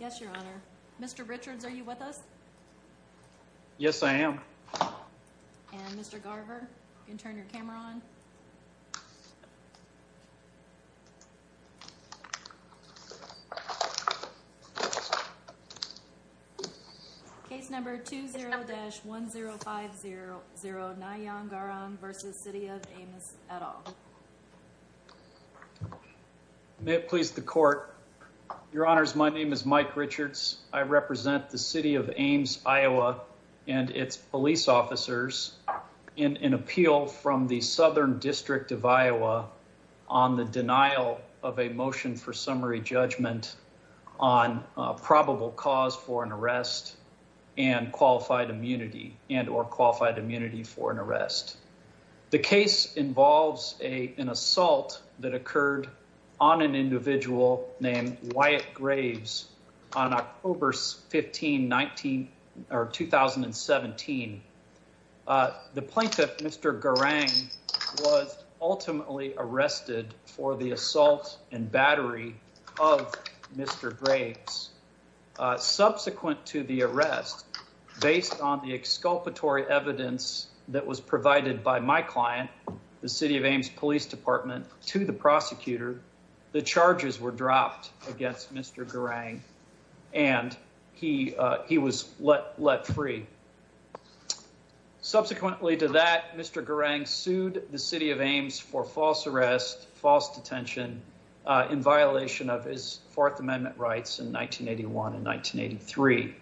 Yes, your honor. Mr. Richards, are you with us? Yes, I am. And Mr. Garver, you can turn your camera on. Case number 20-10500 Ngayong Garang v. City of Ames, et al. May it please the court. Your honors, my name is Mike Richards. I represent the City of Ames, Iowa, and its police officers in an appeal from the Southern District of Iowa on the denial of a motion for summary judgment on probable cause for an arrest and qualified immunity and, or qualified immunity for an arrest. The case involves an assault that occurred on an individual named Wyatt Graves on October 15, 2017. The plaintiff, Mr. Garang, was ultimately arrested for the assault and battery of Mr. Graves. Subsequent to the arrest, based on the exculpatory evidence that was provided by my client, the City of Ames Police Department, to the prosecutor, the charges were dropped against Mr. Garang and he was let free. Subsequently to that, Mr. Garang sued the City of Ames for false arrest, false detention, in violation of his Fourth Amendment rights in 1981 and 1983.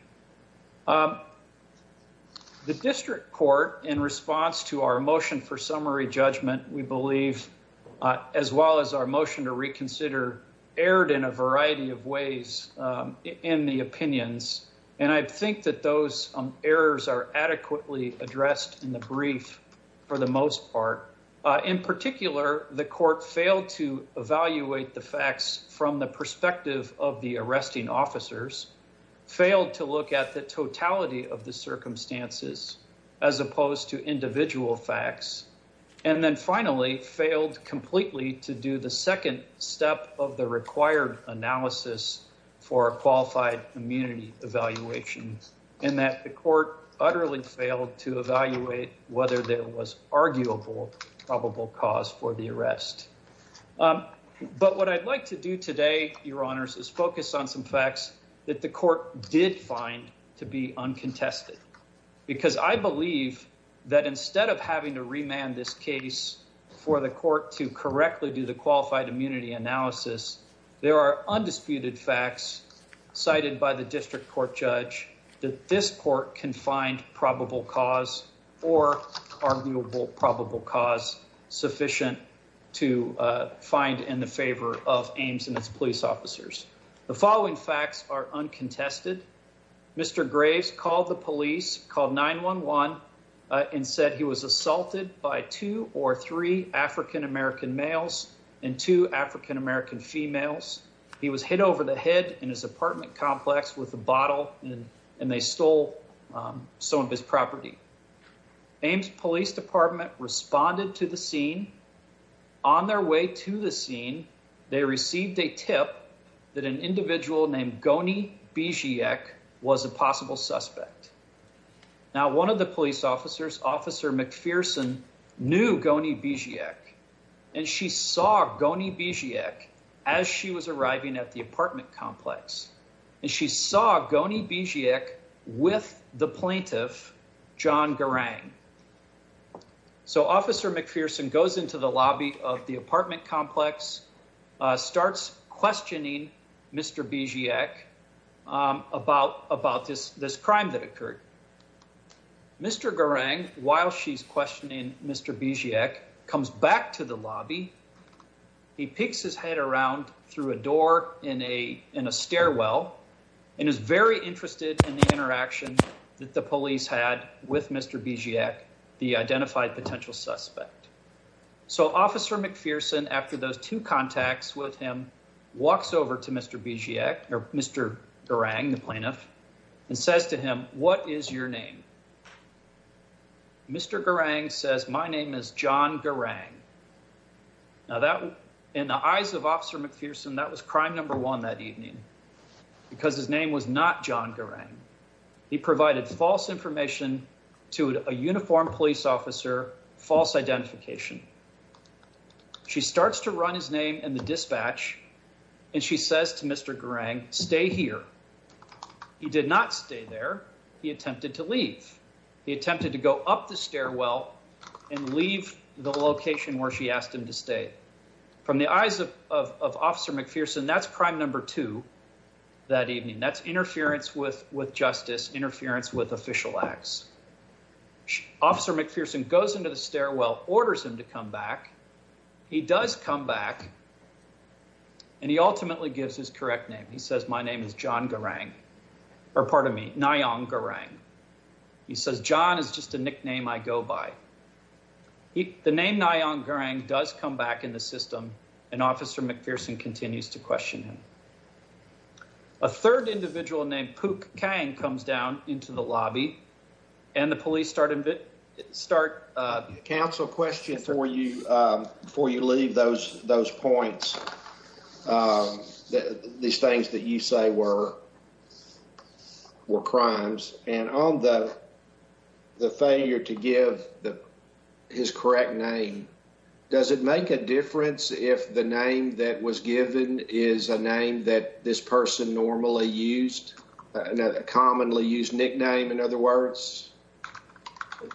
The district court, in response to our motion for summary judgment, we believe, as well as our motion to reconsider, erred in a variety of ways in the opinions. And I think that those errors are adequately addressed in the brief for the most part. In particular, the court failed to evaluate the facts from the perspective of the arresting officers, failed to look at the totality of the circumstances, as opposed to individual facts, and then finally failed completely to do the second step of the required analysis for a qualified immunity evaluation. And that the court utterly failed to evaluate whether there was arguable probable cause for the arrest. But what I'd like to do today, Your Honors, is focus on some facts that the court did find to be uncontested, because I believe that instead of having to remand this case for the court to correctly do the qualified immunity analysis, there are undisputed facts cited by the district court judge that this court can find probable cause or arguable probable cause sufficient to find in the favor of Ames and its police officers. The following facts are uncontested. Mr. Graves called the police, called 911 and said he was assaulted by two or three African-American males and two African-American females. He was hit over the head in his apartment complex with a bottle and they stole some of his property. Ames police department responded to the scene. On their way to the scene, they received a tip that an individual named Goni Bejiek was a possible suspect. Now, one of the police officers, Officer McPherson, knew Goni Bejiek, and she saw Goni Bejiek as she was arriving at the apartment complex, and she saw Goni Bejiek with the plaintiff, John Garang. So Officer McPherson goes into the lobby of the apartment complex, starts questioning Mr. Bejiek about this crime that occurred. Mr. Garang, while she's questioning Mr. Bejiek, comes back to the lobby. He peeks his head around through a door in a stairwell and is very interested in the interaction that the police had with Mr. Bejiek, the identified potential suspect. So Officer McPherson, after those two contacts with him, walks over to Mr. Bejiek, or Mr. Garang, the plaintiff, and says to him, what is your name? Mr. Garang says, my name is John Garang. Now, in the eyes of Officer McPherson, that was crime number one that evening because his name was not John Garang. He provided false information to a uniformed police officer, false identification. She starts to run his name in the dispatch, and she says to Mr. Garang, stay here. He did not stay there. He attempted to leave. He attempted to go up the stairwell and leave the location where she asked him to stay. From the eyes of Officer McPherson, that's crime number two that evening. That's interference with justice, interference with official acts. Officer McPherson goes into the stairwell, orders him to come back. He does come back, and he ultimately gives his correct name. He says, my name is John Garang, or pardon me, Nayong Garang. He says, John is just a nickname I go by. The name Nayong Garang does come back in the system, and Officer McPherson continues to question him. A third individual named Pook Kang comes down into the lobby, and the police start- Counsel, question for you before you leave those points, these things that you say were crimes. On the failure to give his correct name, does it make a difference if the name that was given is a name that this person normally used, a commonly used nickname, in other words?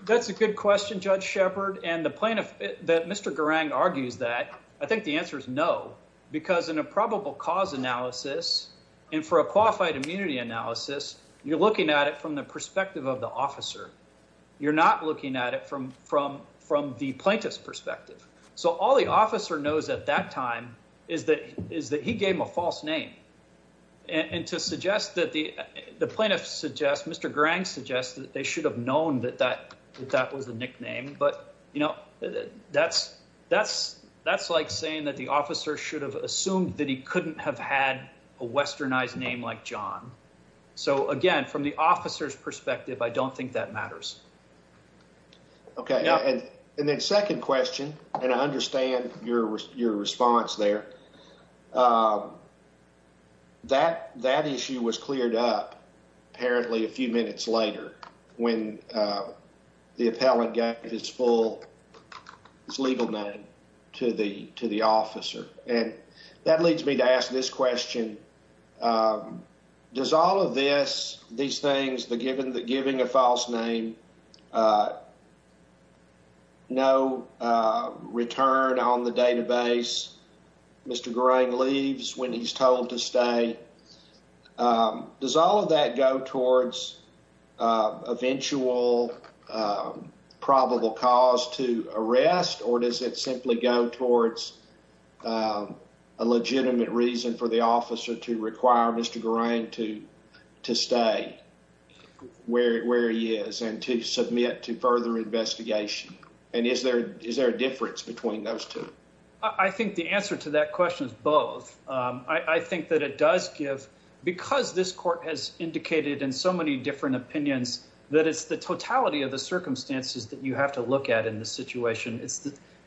That's a good question, Judge Shepard, and the point that Mr. Garang argues that, I think the answer is no, because in a probable cause analysis, and for a qualified immunity analysis, you're looking at it from the perspective of the officer. You're not looking at it from the plaintiff's perspective. So all the officer knows at that time is that he gave him a false name. And to suggest that the plaintiff suggests, Mr. Garang suggests that they should have known that that was the nickname. But that's like saying that the officer should have assumed that he couldn't have had a westernized name like John. So again, from the officer's perspective, I don't think that matters. Okay. And then second question, and I understand your response there, that issue was cleared up apparently a few minutes later when the appellant gave his legal name to the officer. And that leads me to ask this question. Does all of this, these things, the giving a false name, no return on the database, Mr. Garang leaves when he's told to stay. Does all of that go towards eventual probable cause to arrest, or does it have a legitimate reason for the officer to require Mr. Garang to stay where he is and to submit to further investigation? And is there a difference between those two? I think the answer to that question is both. I think that it does give, because this court has indicated in so many different opinions, that it's the totality of the circumstances that you have to look at in this situation.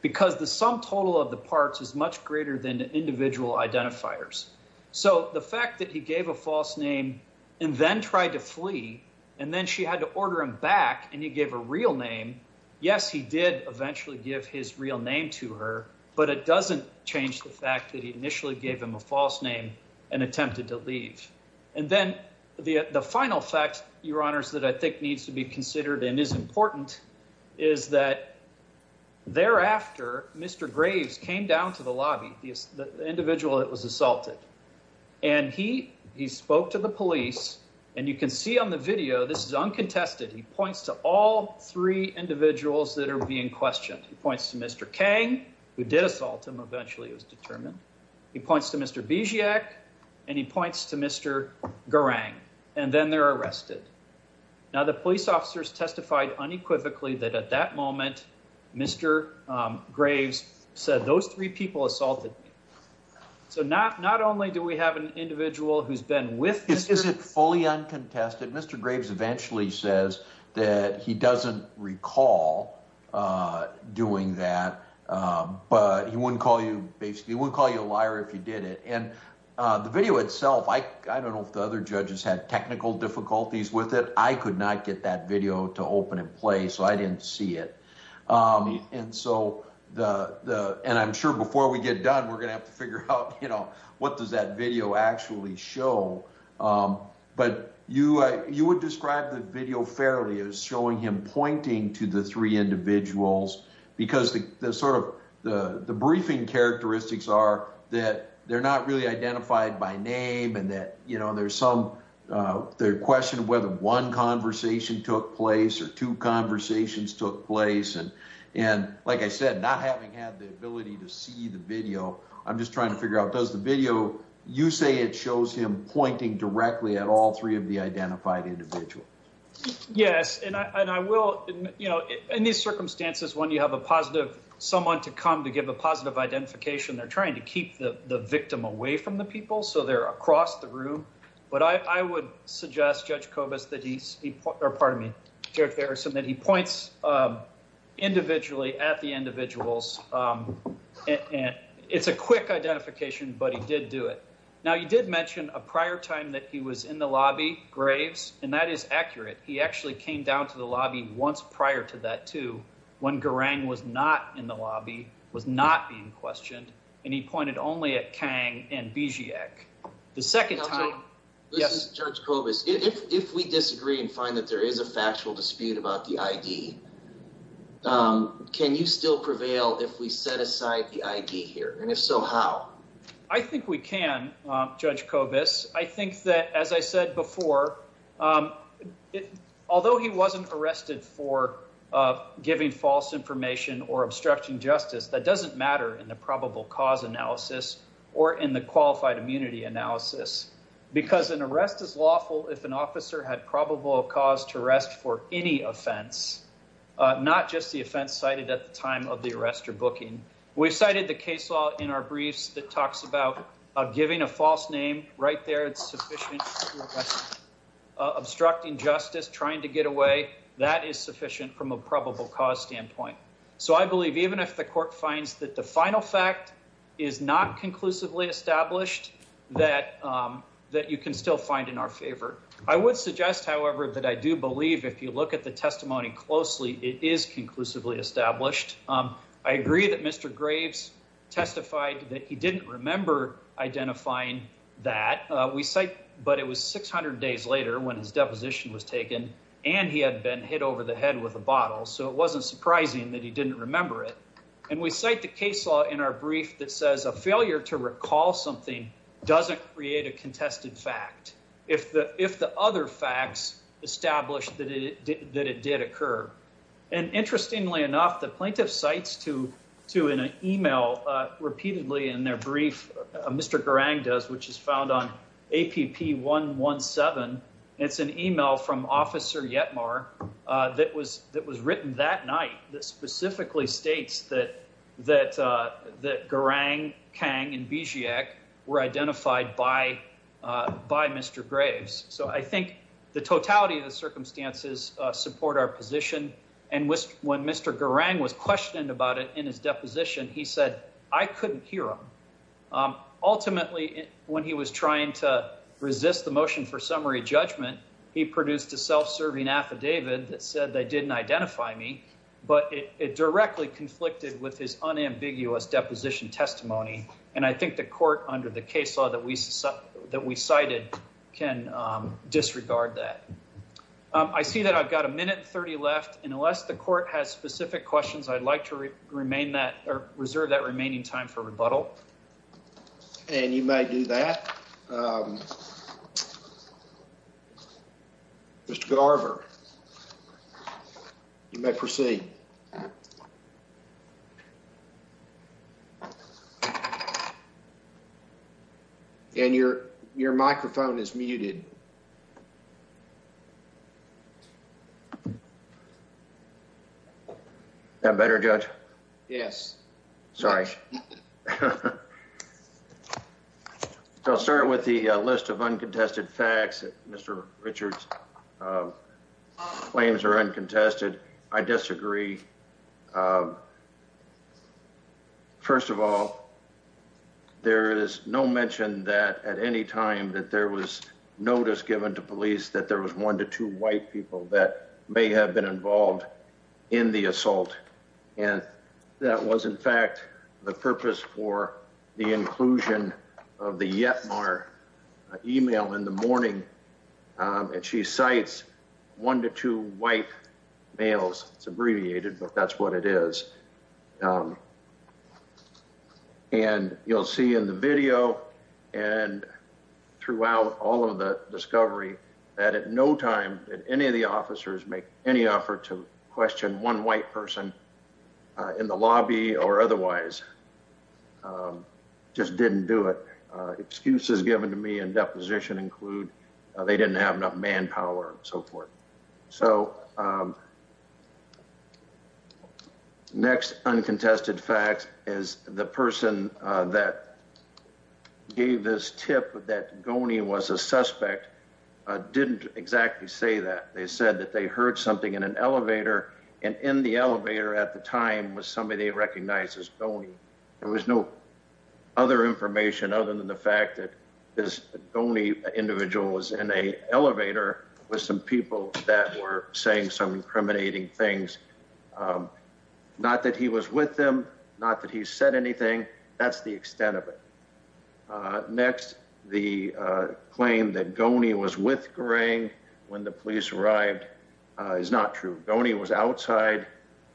Because the sum total of the parts is much greater than the individual identifiers. So the fact that he gave a false name and then tried to flee, and then she had to order him back and he gave a real name, yes, he did eventually give his real name to her, but it doesn't change the fact that he initially gave him a false name and attempted to leave. And then the final fact, Your Honors, that I think needs to be considered and that thereafter, Mr. Graves came down to the lobby, the individual that was assaulted. And he spoke to the police, and you can see on the video, this is uncontested. He points to all three individuals that are being questioned. He points to Mr. Kang, who did assault him, eventually it was determined. He points to Mr. Bijak, and he points to Mr. Garang, and then they're arrested. Now, the police officers testified unequivocally that at that moment, Mr. Graves said, those three people assaulted me. So not only do we have an individual who's been with Mr. Graves- Is it fully uncontested? Mr. Graves eventually says that he doesn't recall doing that, but he wouldn't call you basically, he wouldn't call you a liar if you did it. And the video itself, I don't know if the other judges had technical difficulties with it, I could not get that video to open and play. So I didn't see it. I'm sure before we get done, we're going to have to figure out what does that video actually show? But you would describe the video fairly as showing him pointing to the three individuals, because the briefing characteristics are that they're not really identified by name and that, you know, there's some, the question of whether one conversation took place or two conversations took place. And, and like I said, not having had the ability to see the video, I'm just trying to figure out, does the video, you say it shows him pointing directly at all three of the identified individuals? Yes. And I, and I will, you know, in these circumstances, when you have a positive, someone to come to give a positive identification, they're away from the people, so they're across the room, but I would suggest Judge Kobus that he's, or pardon me, Judge Harrison, that he points individually at the individuals. And it's a quick identification, but he did do it. Now you did mention a prior time that he was in the lobby, Graves, and that is accurate. He actually came down to the lobby once prior to that too, when Garang was not in the lobby, was not being questioned and he pointed only at Bejiek, the second time. This is Judge Kobus, if we disagree and find that there is a factual dispute about the ID, can you still prevail if we set aside the ID here? And if so, how? I think we can, Judge Kobus. I think that, as I said before, although he wasn't arrested for giving false information or obstructing justice, that doesn't matter in the probable cause analysis or in the qualified immunity analysis, because an arrest is lawful if an officer had probable cause to arrest for any offense, not just the offense cited at the time of the arrest or booking. We've cited the case law in our briefs that talks about giving a false name right there, it's sufficient, obstructing justice, trying to get away, that is sufficient from a probable cause standpoint. So I believe even if the court finds that the final fact is not conclusively established, that you can still find in our favor. I would suggest, however, that I do believe if you look at the testimony closely, it is conclusively established. I agree that Mr. Graves testified that he didn't remember identifying that, but it was 600 days later when his deposition was taken and he had been hit over the head with a knife and that he didn't remember it. And we cite the case law in our brief that says a failure to recall something doesn't create a contested fact if the other facts establish that it did occur. And interestingly enough, the plaintiff cites to an email repeatedly in their brief, Mr. Garang does, which is found on APP 117. It's an email from Officer Yetmar that was written that night, that specifically states that Garang, Kang, and Bisiak were identified by Mr. Graves. So I think the totality of the circumstances support our position. And when Mr. Garang was questioned about it in his deposition, he said, I couldn't hear him. Ultimately, when he was trying to resist the motion for summary judgment, he directly conflicted with his unambiguous deposition testimony. And I think the court under the case law that we cited can disregard that. I see that I've got a minute and 30 left, and unless the court has specific questions, I'd like to reserve that remaining time for rebuttal. And you may do that. Mr. Garver, you may proceed. And your your microphone is muted. That better, Judge? Yes. Sorry. So I'll start with the list of uncontested facts that Mr. Richard's claims are uncontested. I disagree. First of all, there is no mention that at any time that there was notice given to police that there was one to two white people that may have been involved in the assault. And that was, in fact, the purpose for the inclusion of the Yetmar email in the morning. And she cites one to two white males. It's abbreviated, but that's what it is. And you'll see in the video and throughout all of the discovery that at no time did any of the officers make any effort to question one white person in the lobby or otherwise just didn't do it. Excuses given to me in deposition include they didn't have enough manpower and so forth. So next uncontested facts is the person that gave this tip that Goni was a suspect didn't exactly say that. They said that they heard something in an elevator and in the elevator at the time was somebody they recognized as Goni. There was no other information other than the fact that this Goni individual was in an elevator with some people that were saying some incriminating things, not that he was with them, not that he said anything. That's the extent of it. Next, the claim that Goni was with Goring when the police arrived is not true. Goni was outside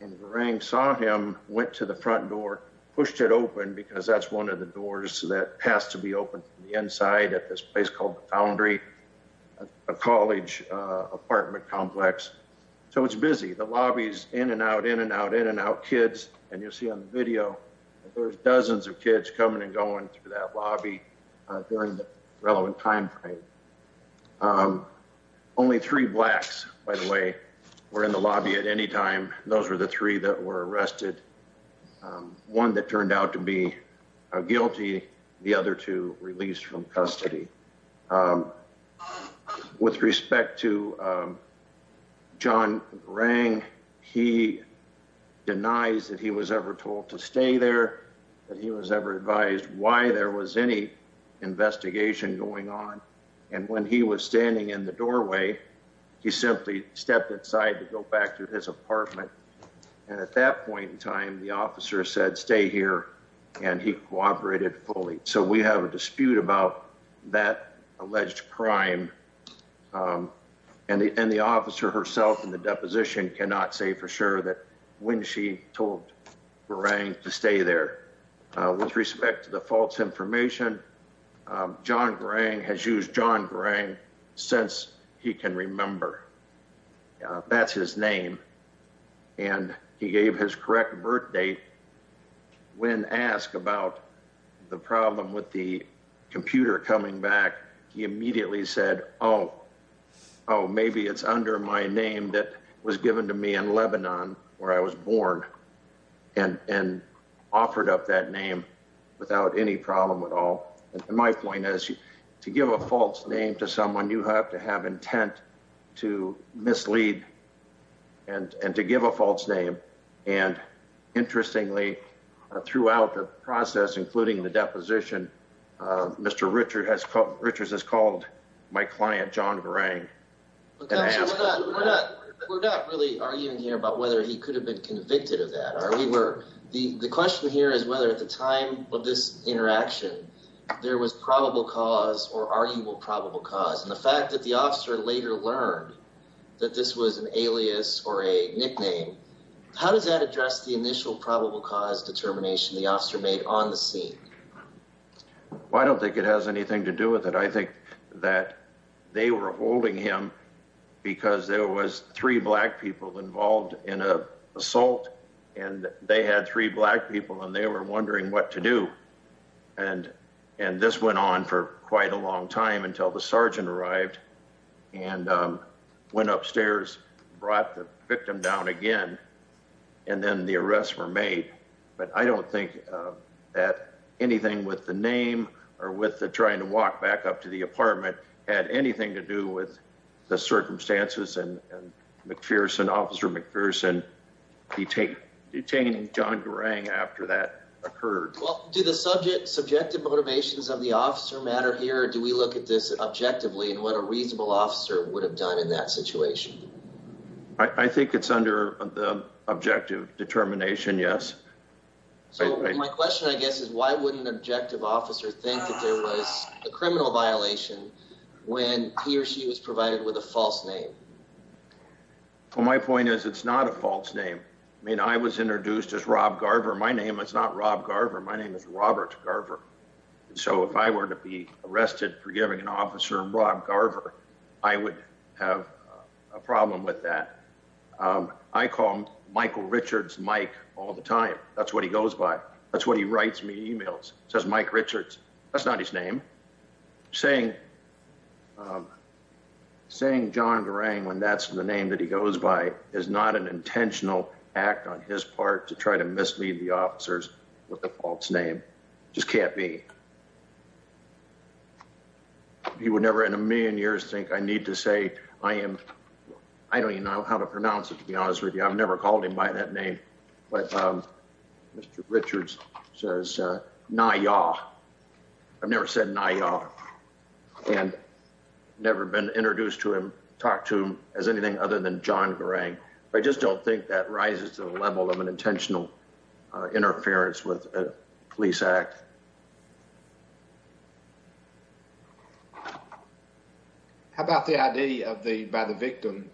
and Goring saw him, went to the front door, pushed it open because that's one of the doors that has to be open from the inside at this place called the Foundry, a college apartment complex. So it's busy. The lobby's in and out, in and out, in and out. Kids. And you'll see on the video, there's dozens of kids coming and going through that lobby during the relevant time frame. Only three blacks, by the way, were in the lobby at any time. Those were the three that were arrested, one that turned out to be guilty, the other two released from custody. With respect to John Goring, he denies that he was ever told to stay there, that he was ever advised why there was any investigation going on. And when he was standing in the doorway, he simply stepped inside to go back to his apartment. And at that point in time, the officer said, stay here. And he cooperated fully. So we have a dispute about that alleged crime. And the officer herself in the deposition cannot say for sure that when she told Goring to stay there. With respect to the false information, John Goring has used John Goring since he can remember. That's his name. And he gave his correct birth date. When asked about the problem with the computer coming back, he immediately said, oh, oh, maybe it's under my name that was given to me in Lebanon where I was born. And and offered up that name without any problem at all. My point is, to give a false name to someone, you have to have intent to mislead and to give a false name. And interestingly, throughout the process, including the deposition, Mr. Richard Richards has called my client John Goring. But we're not really arguing here about whether he could have been convicted of that or we were. The question here is whether at the time of this interaction, there was probable cause or arguable probable cause. And the fact that the officer later learned that this was an alias or a nickname, how does that address the initial probable cause determination the officer made on the scene? Well, I don't think it has anything to do with it. I think that they were holding him because there was three black people involved in a assault and they had three black people and they were wondering what to do. And and this went on for quite a long time until the sergeant arrived and went upstairs, brought the victim down again, and then the arrests were made. But I don't think that anything with the name or with the trying to walk back up to the apartment had anything to do with the circumstances. And McPherson, Officer McPherson, he detained John Goring after that occurred. Well, do the subject subjective motivations of the officer matter here? Do we look at this objectively and what a reasonable officer would have done in that situation? I think it's under the objective determination. Yes. So my question, I guess, is why wouldn't an objective officer think that there was a criminal violation when he or she was provided with a false name? For my point is, it's not a false name. I mean, I was introduced as Rob Garver. My name is not Rob Garver. My name is Robert Garver. So if I were to be arrested for giving an officer Rob Garver, I would have a problem with that. I call Michael Richards Mike all the time. That's what he goes by. That's what he writes me. Emails says Mike Richards. That's not his name. Saying. Saying John Goring, when that's the name that he goes by, is not an intentional act on his part to try to mislead the officers with the false name just can't be. He would never in a million years think I need to say I am. I don't even know how to pronounce it, to be honest with you, I've never called him by that name. But Mr. Richards says Naya. I've never said Naya and never been introduced to him, talked to him as anything other than John Goring. I just don't think that rises to the level of an intentional interference with a police act. How about the idea of the by the victim,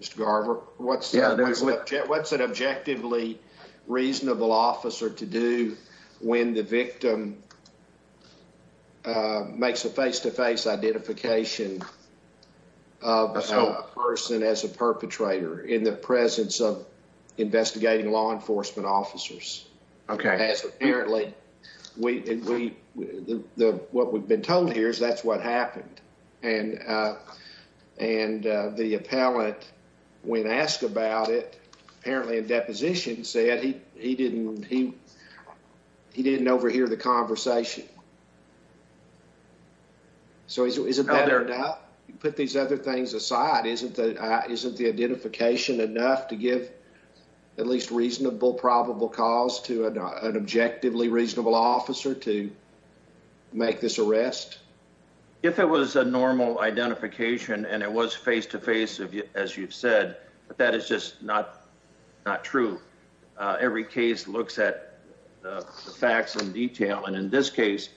Mr. Garver? What's what's an objectively reasonable officer to do when the victim makes a face to face identification of a person as a perpetrator in the presence of investigating law enforcement officers? OK, as apparently we the what we've been told here is that's what happened. And and the appellate, when asked about it, apparently a deposition said he he didn't he he didn't overhear the conversation. So is it better to put these other things aside, isn't that isn't the identification enough to give at least reasonable probable cause to an objectively reasonable officer to make this arrest? If it was a normal identification and it was face to face, as you've said, that is just not not true. Every case looks at the facts in detail. And in this case,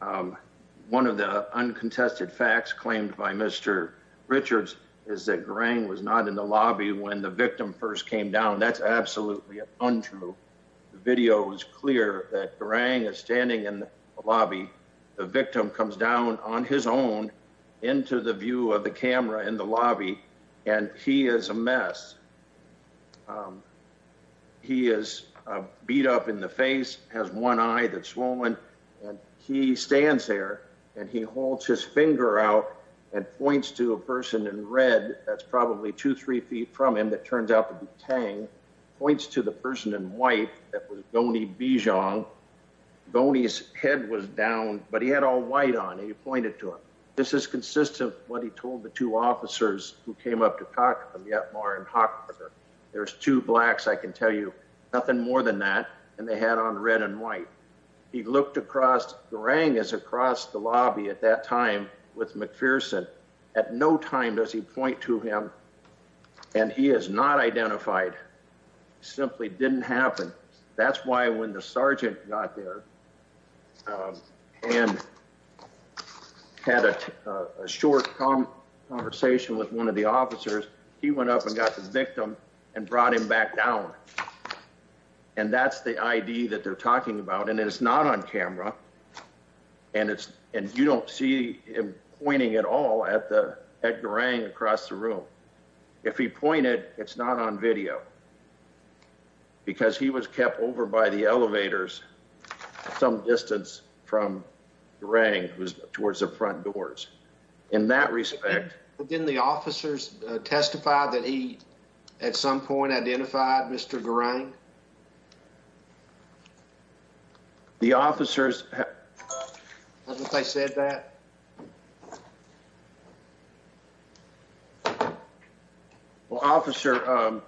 one of the uncontested facts claimed by Mr. Richards is that Greg was not in the lobby when the victim first came down. That's absolutely untrue. The video is clear that Greg is standing in the lobby. The victim comes down on his own into the view of the camera in the lobby. And he is a mess. He is beat up in the face, has one eye that swollen and he stands there and he holds his finger out and points to a person in red. That's probably two, three feet from him. That turns out to be Tang points to the person in white that was Goni Bijong. Goni's head was down, but he had all white on it. He pointed to him. This is consistent with what he told the two officers who came up to talk to him yet more. And there's two blacks. I can tell you nothing more than that. And they had on red and white. He looked across the rang is across the lobby at that time with McPherson. At no time does he point to him and he is not identified. Simply didn't happen. That's why when the sergeant got there and had a short conversation with one of the officers, he went up and got the victim and brought him back down. And that's the idea that they're talking about, and it's not on camera and it's and you don't see him pointing at all at the at the ring across the room. If he pointed, it's not on video. Because he was kept over by the elevators some distance from the ring was towards the front doors in that respect. But then the officers testified that he at some point identified Mr. Garang. The officers said that. Well, Officer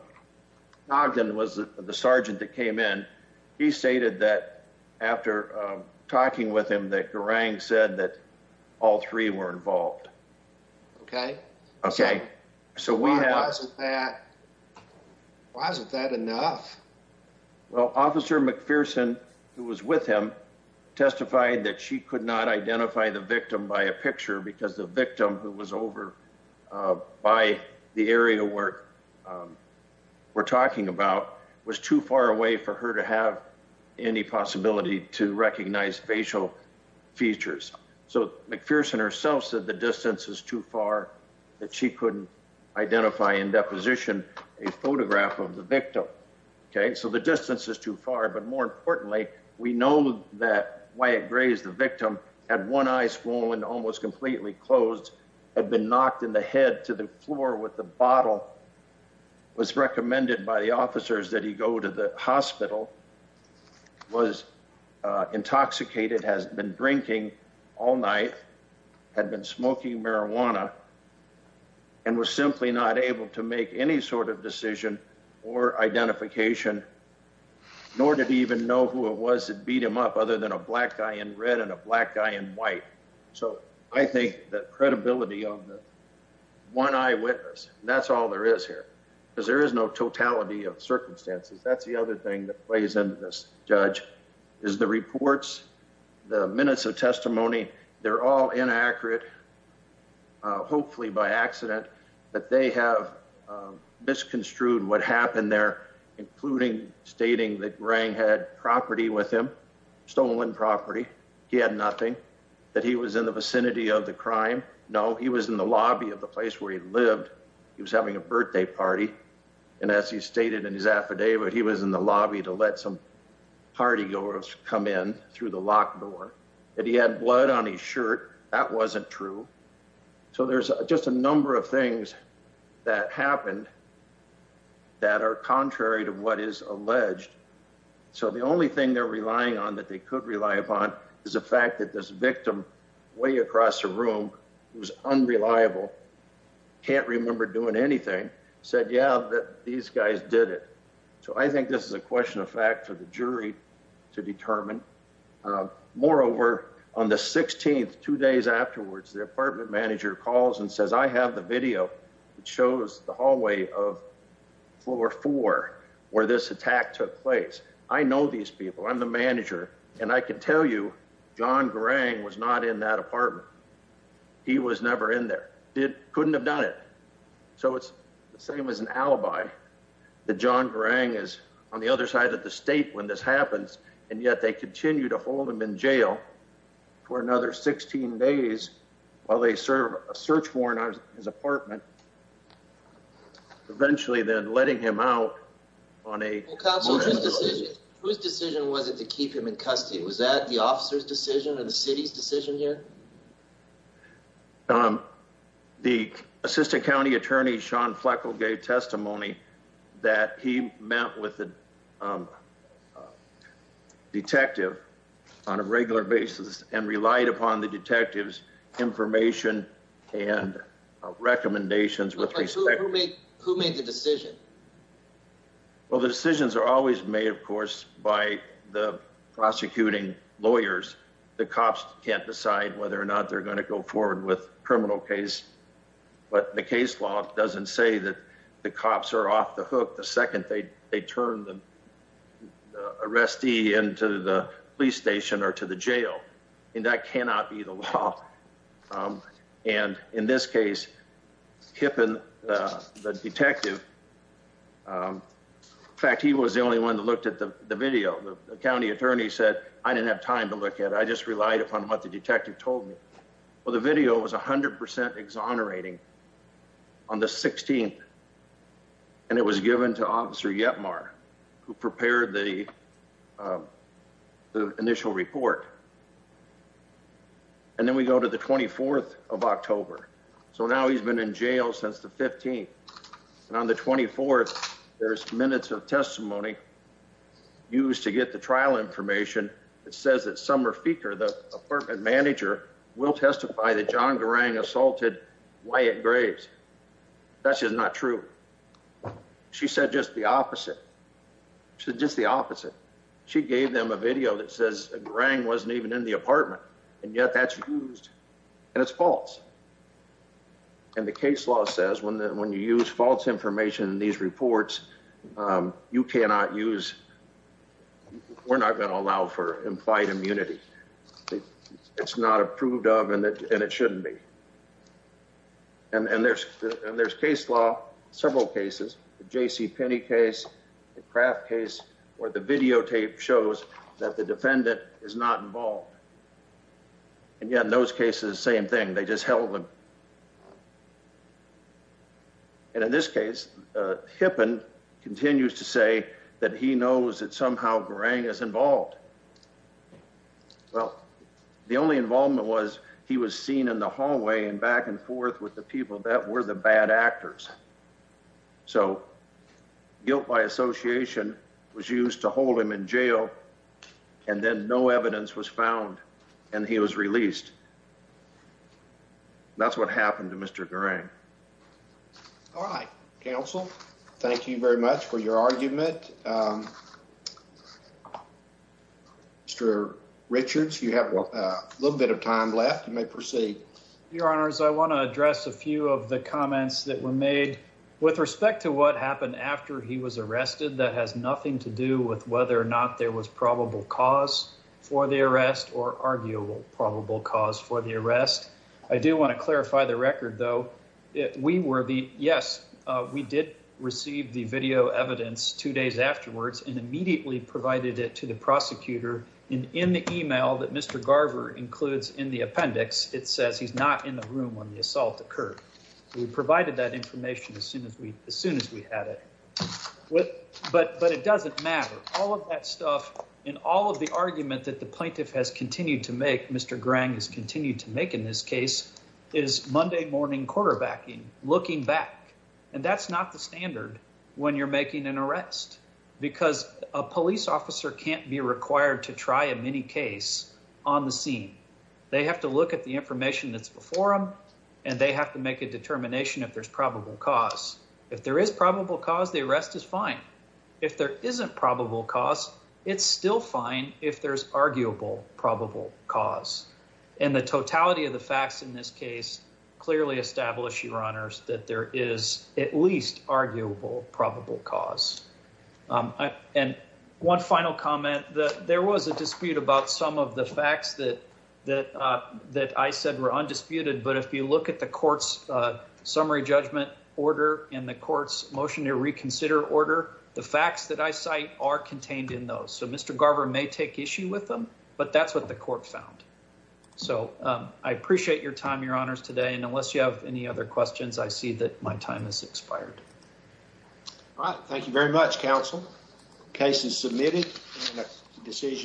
Ogden was the sergeant that came in, he stated that after talking with him, that Garang said that all three were involved. OK, OK, so why wasn't that? Why isn't that enough? Well, Officer McPherson, who was with him, testified that she could not identify the victim by a picture because the victim who was over by the area where we're talking about was too far away for her to have any possibility to recognize facial features. So McPherson herself said the distance is too far that she couldn't identify in deposition a photograph of the victim. OK, so the distance is too far. But more importantly, we know that Wyatt Gray is the victim had one eye swollen, almost completely closed, had been knocked in the head to the floor with the bottle, was recommended by the officers that he go to the hospital, was intoxicated, has been drinking all night, had been smoking marijuana and was simply not able to make any sort of decision or identification, nor did he even know who it was that beat him up other than a black guy in red and a black guy in white. So I think that credibility of the one eyewitness, that's all there is here because there is no totality of circumstances. That's the other thing that plays into this, Judge, is the reports, the minutes of testimony. They're all inaccurate, hopefully by accident, but they have misconstrued what happened there, including stating that Gray had property with him, stolen property. He had nothing that he was in the vicinity of the crime. No, he was in the lobby of the place where he lived. He was having a birthday party and as he stated in his affidavit, he was in the lobby to let some partygoers come in through the locked door and he had blood on his shirt. That wasn't true. So there's just a number of things that happened. That are contrary to what is alleged, so the only thing they're relying on that they could rely upon is the fact that this victim way across the room was unreliable, can't remember doing anything, said, yeah, these guys did it. So I think this is a question of fact for the jury to determine. Moreover, on the 16th, two days afterwards, the apartment manager calls and says, I have the video that shows the hallway of floor four where this attack took place. I know these people. I'm the manager and I can tell you John Gray was not in that apartment. He was never in there. It couldn't have done it. So it's the same as an alibi. The John Gray is on the other side of the state when this happens, and yet they continue to hold him in jail for another 16 days while they serve a search warrant on his apartment. Eventually, then letting him out on a decision, whose decision was it to keep him in custody? Was that the officer's decision or the city's decision here? The assistant county attorney, Sean Fleckle, gave testimony that he met with the detective on a regular basis and relied upon the detective's information and recommendations with respect to who made the decision. Well, the decisions are always made, of course, by the prosecuting lawyers, the cops can't decide whether or not they're going to go forward with a criminal case. But the case law doesn't say that the cops are off the hook the second they turn the arrestee into the police station or to the jail. And that cannot be the law. And in this case, Kippen, the detective, in fact, he was the only one that looked at the video. The county attorney said, I didn't have time to look at it. I just relied upon what the detective told me. Well, the video was 100 percent exonerating on the 16th. And it was given to Officer Yetmar, who prepared the the initial report. And then we go to the 24th of October, so now he's been in jail since the 15th and on the 24th, there's minutes of testimony used to get the trial information. It says that Summer Feeker, the apartment manager, will testify that John Garang assaulted Wyatt Graves. That's just not true. She said just the opposite. She's just the opposite. She gave them a video that says Garang wasn't even in the apartment. And yet that's used and it's false. And the case law says when when you use false information in these reports, you cannot use. We're not going to allow for implied immunity, it's not approved of and it shouldn't be. And there's and there's case law, several cases, the J.C. Penney case, the Kraft case where the videotape shows that the defendant is not involved. And yet in those cases, the same thing, they just held them. And in this case, Hippen continues to say that he knows that somehow Garang is involved. Well, the only involvement was he was seen in the hallway and back and forth with the people that were the bad actors. So guilt by association was used to hold him in jail and then no evidence was found and he was released. That's what happened to Mr. Garang. All right, counsel, thank you very much for your argument. Mr. Richards, you have a little bit of time left. You may proceed. Your Honor, as I want to address a few of the comments that were made with respect to what happened after he was arrested, that has nothing to do with whether or not there was probable cause for the arrest or arguable probable cause for the arrest. I do want to clarify the record, though. We were the yes, we did receive the video evidence two days afterwards and immediately provided it to the prosecutor in the email that Mr. Garver includes in the appendix. It says he's not in the room when the assault occurred. We provided that information as soon as we as soon as we had it. But it doesn't matter. All of that stuff and all of the argument that the plaintiff has continued to make, Mr. Garang has continued to make in this case, is Monday morning quarterbacking, looking back. And that's not the standard when you're making an arrest because a police officer can't be required to try a mini case on the scene. They have to look at the information that's before them and they have to make a determination if there's probable cause. If there is probable cause, the arrest is fine. If there isn't probable cause, it's still fine if there's arguable probable cause and the totality of the facts in this case clearly establish your honors that there is at least arguable probable cause. And one final comment that there was a dispute about some of the facts that that that I said were undisputed. But if you look at the court's summary judgment order in the court's motion to reconsider order, the facts that I cite are contained in those. So Mr. Garver may take issue with them, but that's what the court found. So I appreciate your time, your honors today. And unless you have any other questions, I see that my time has expired. All right. Thank you very much, counsel. Case is submitted. Decision.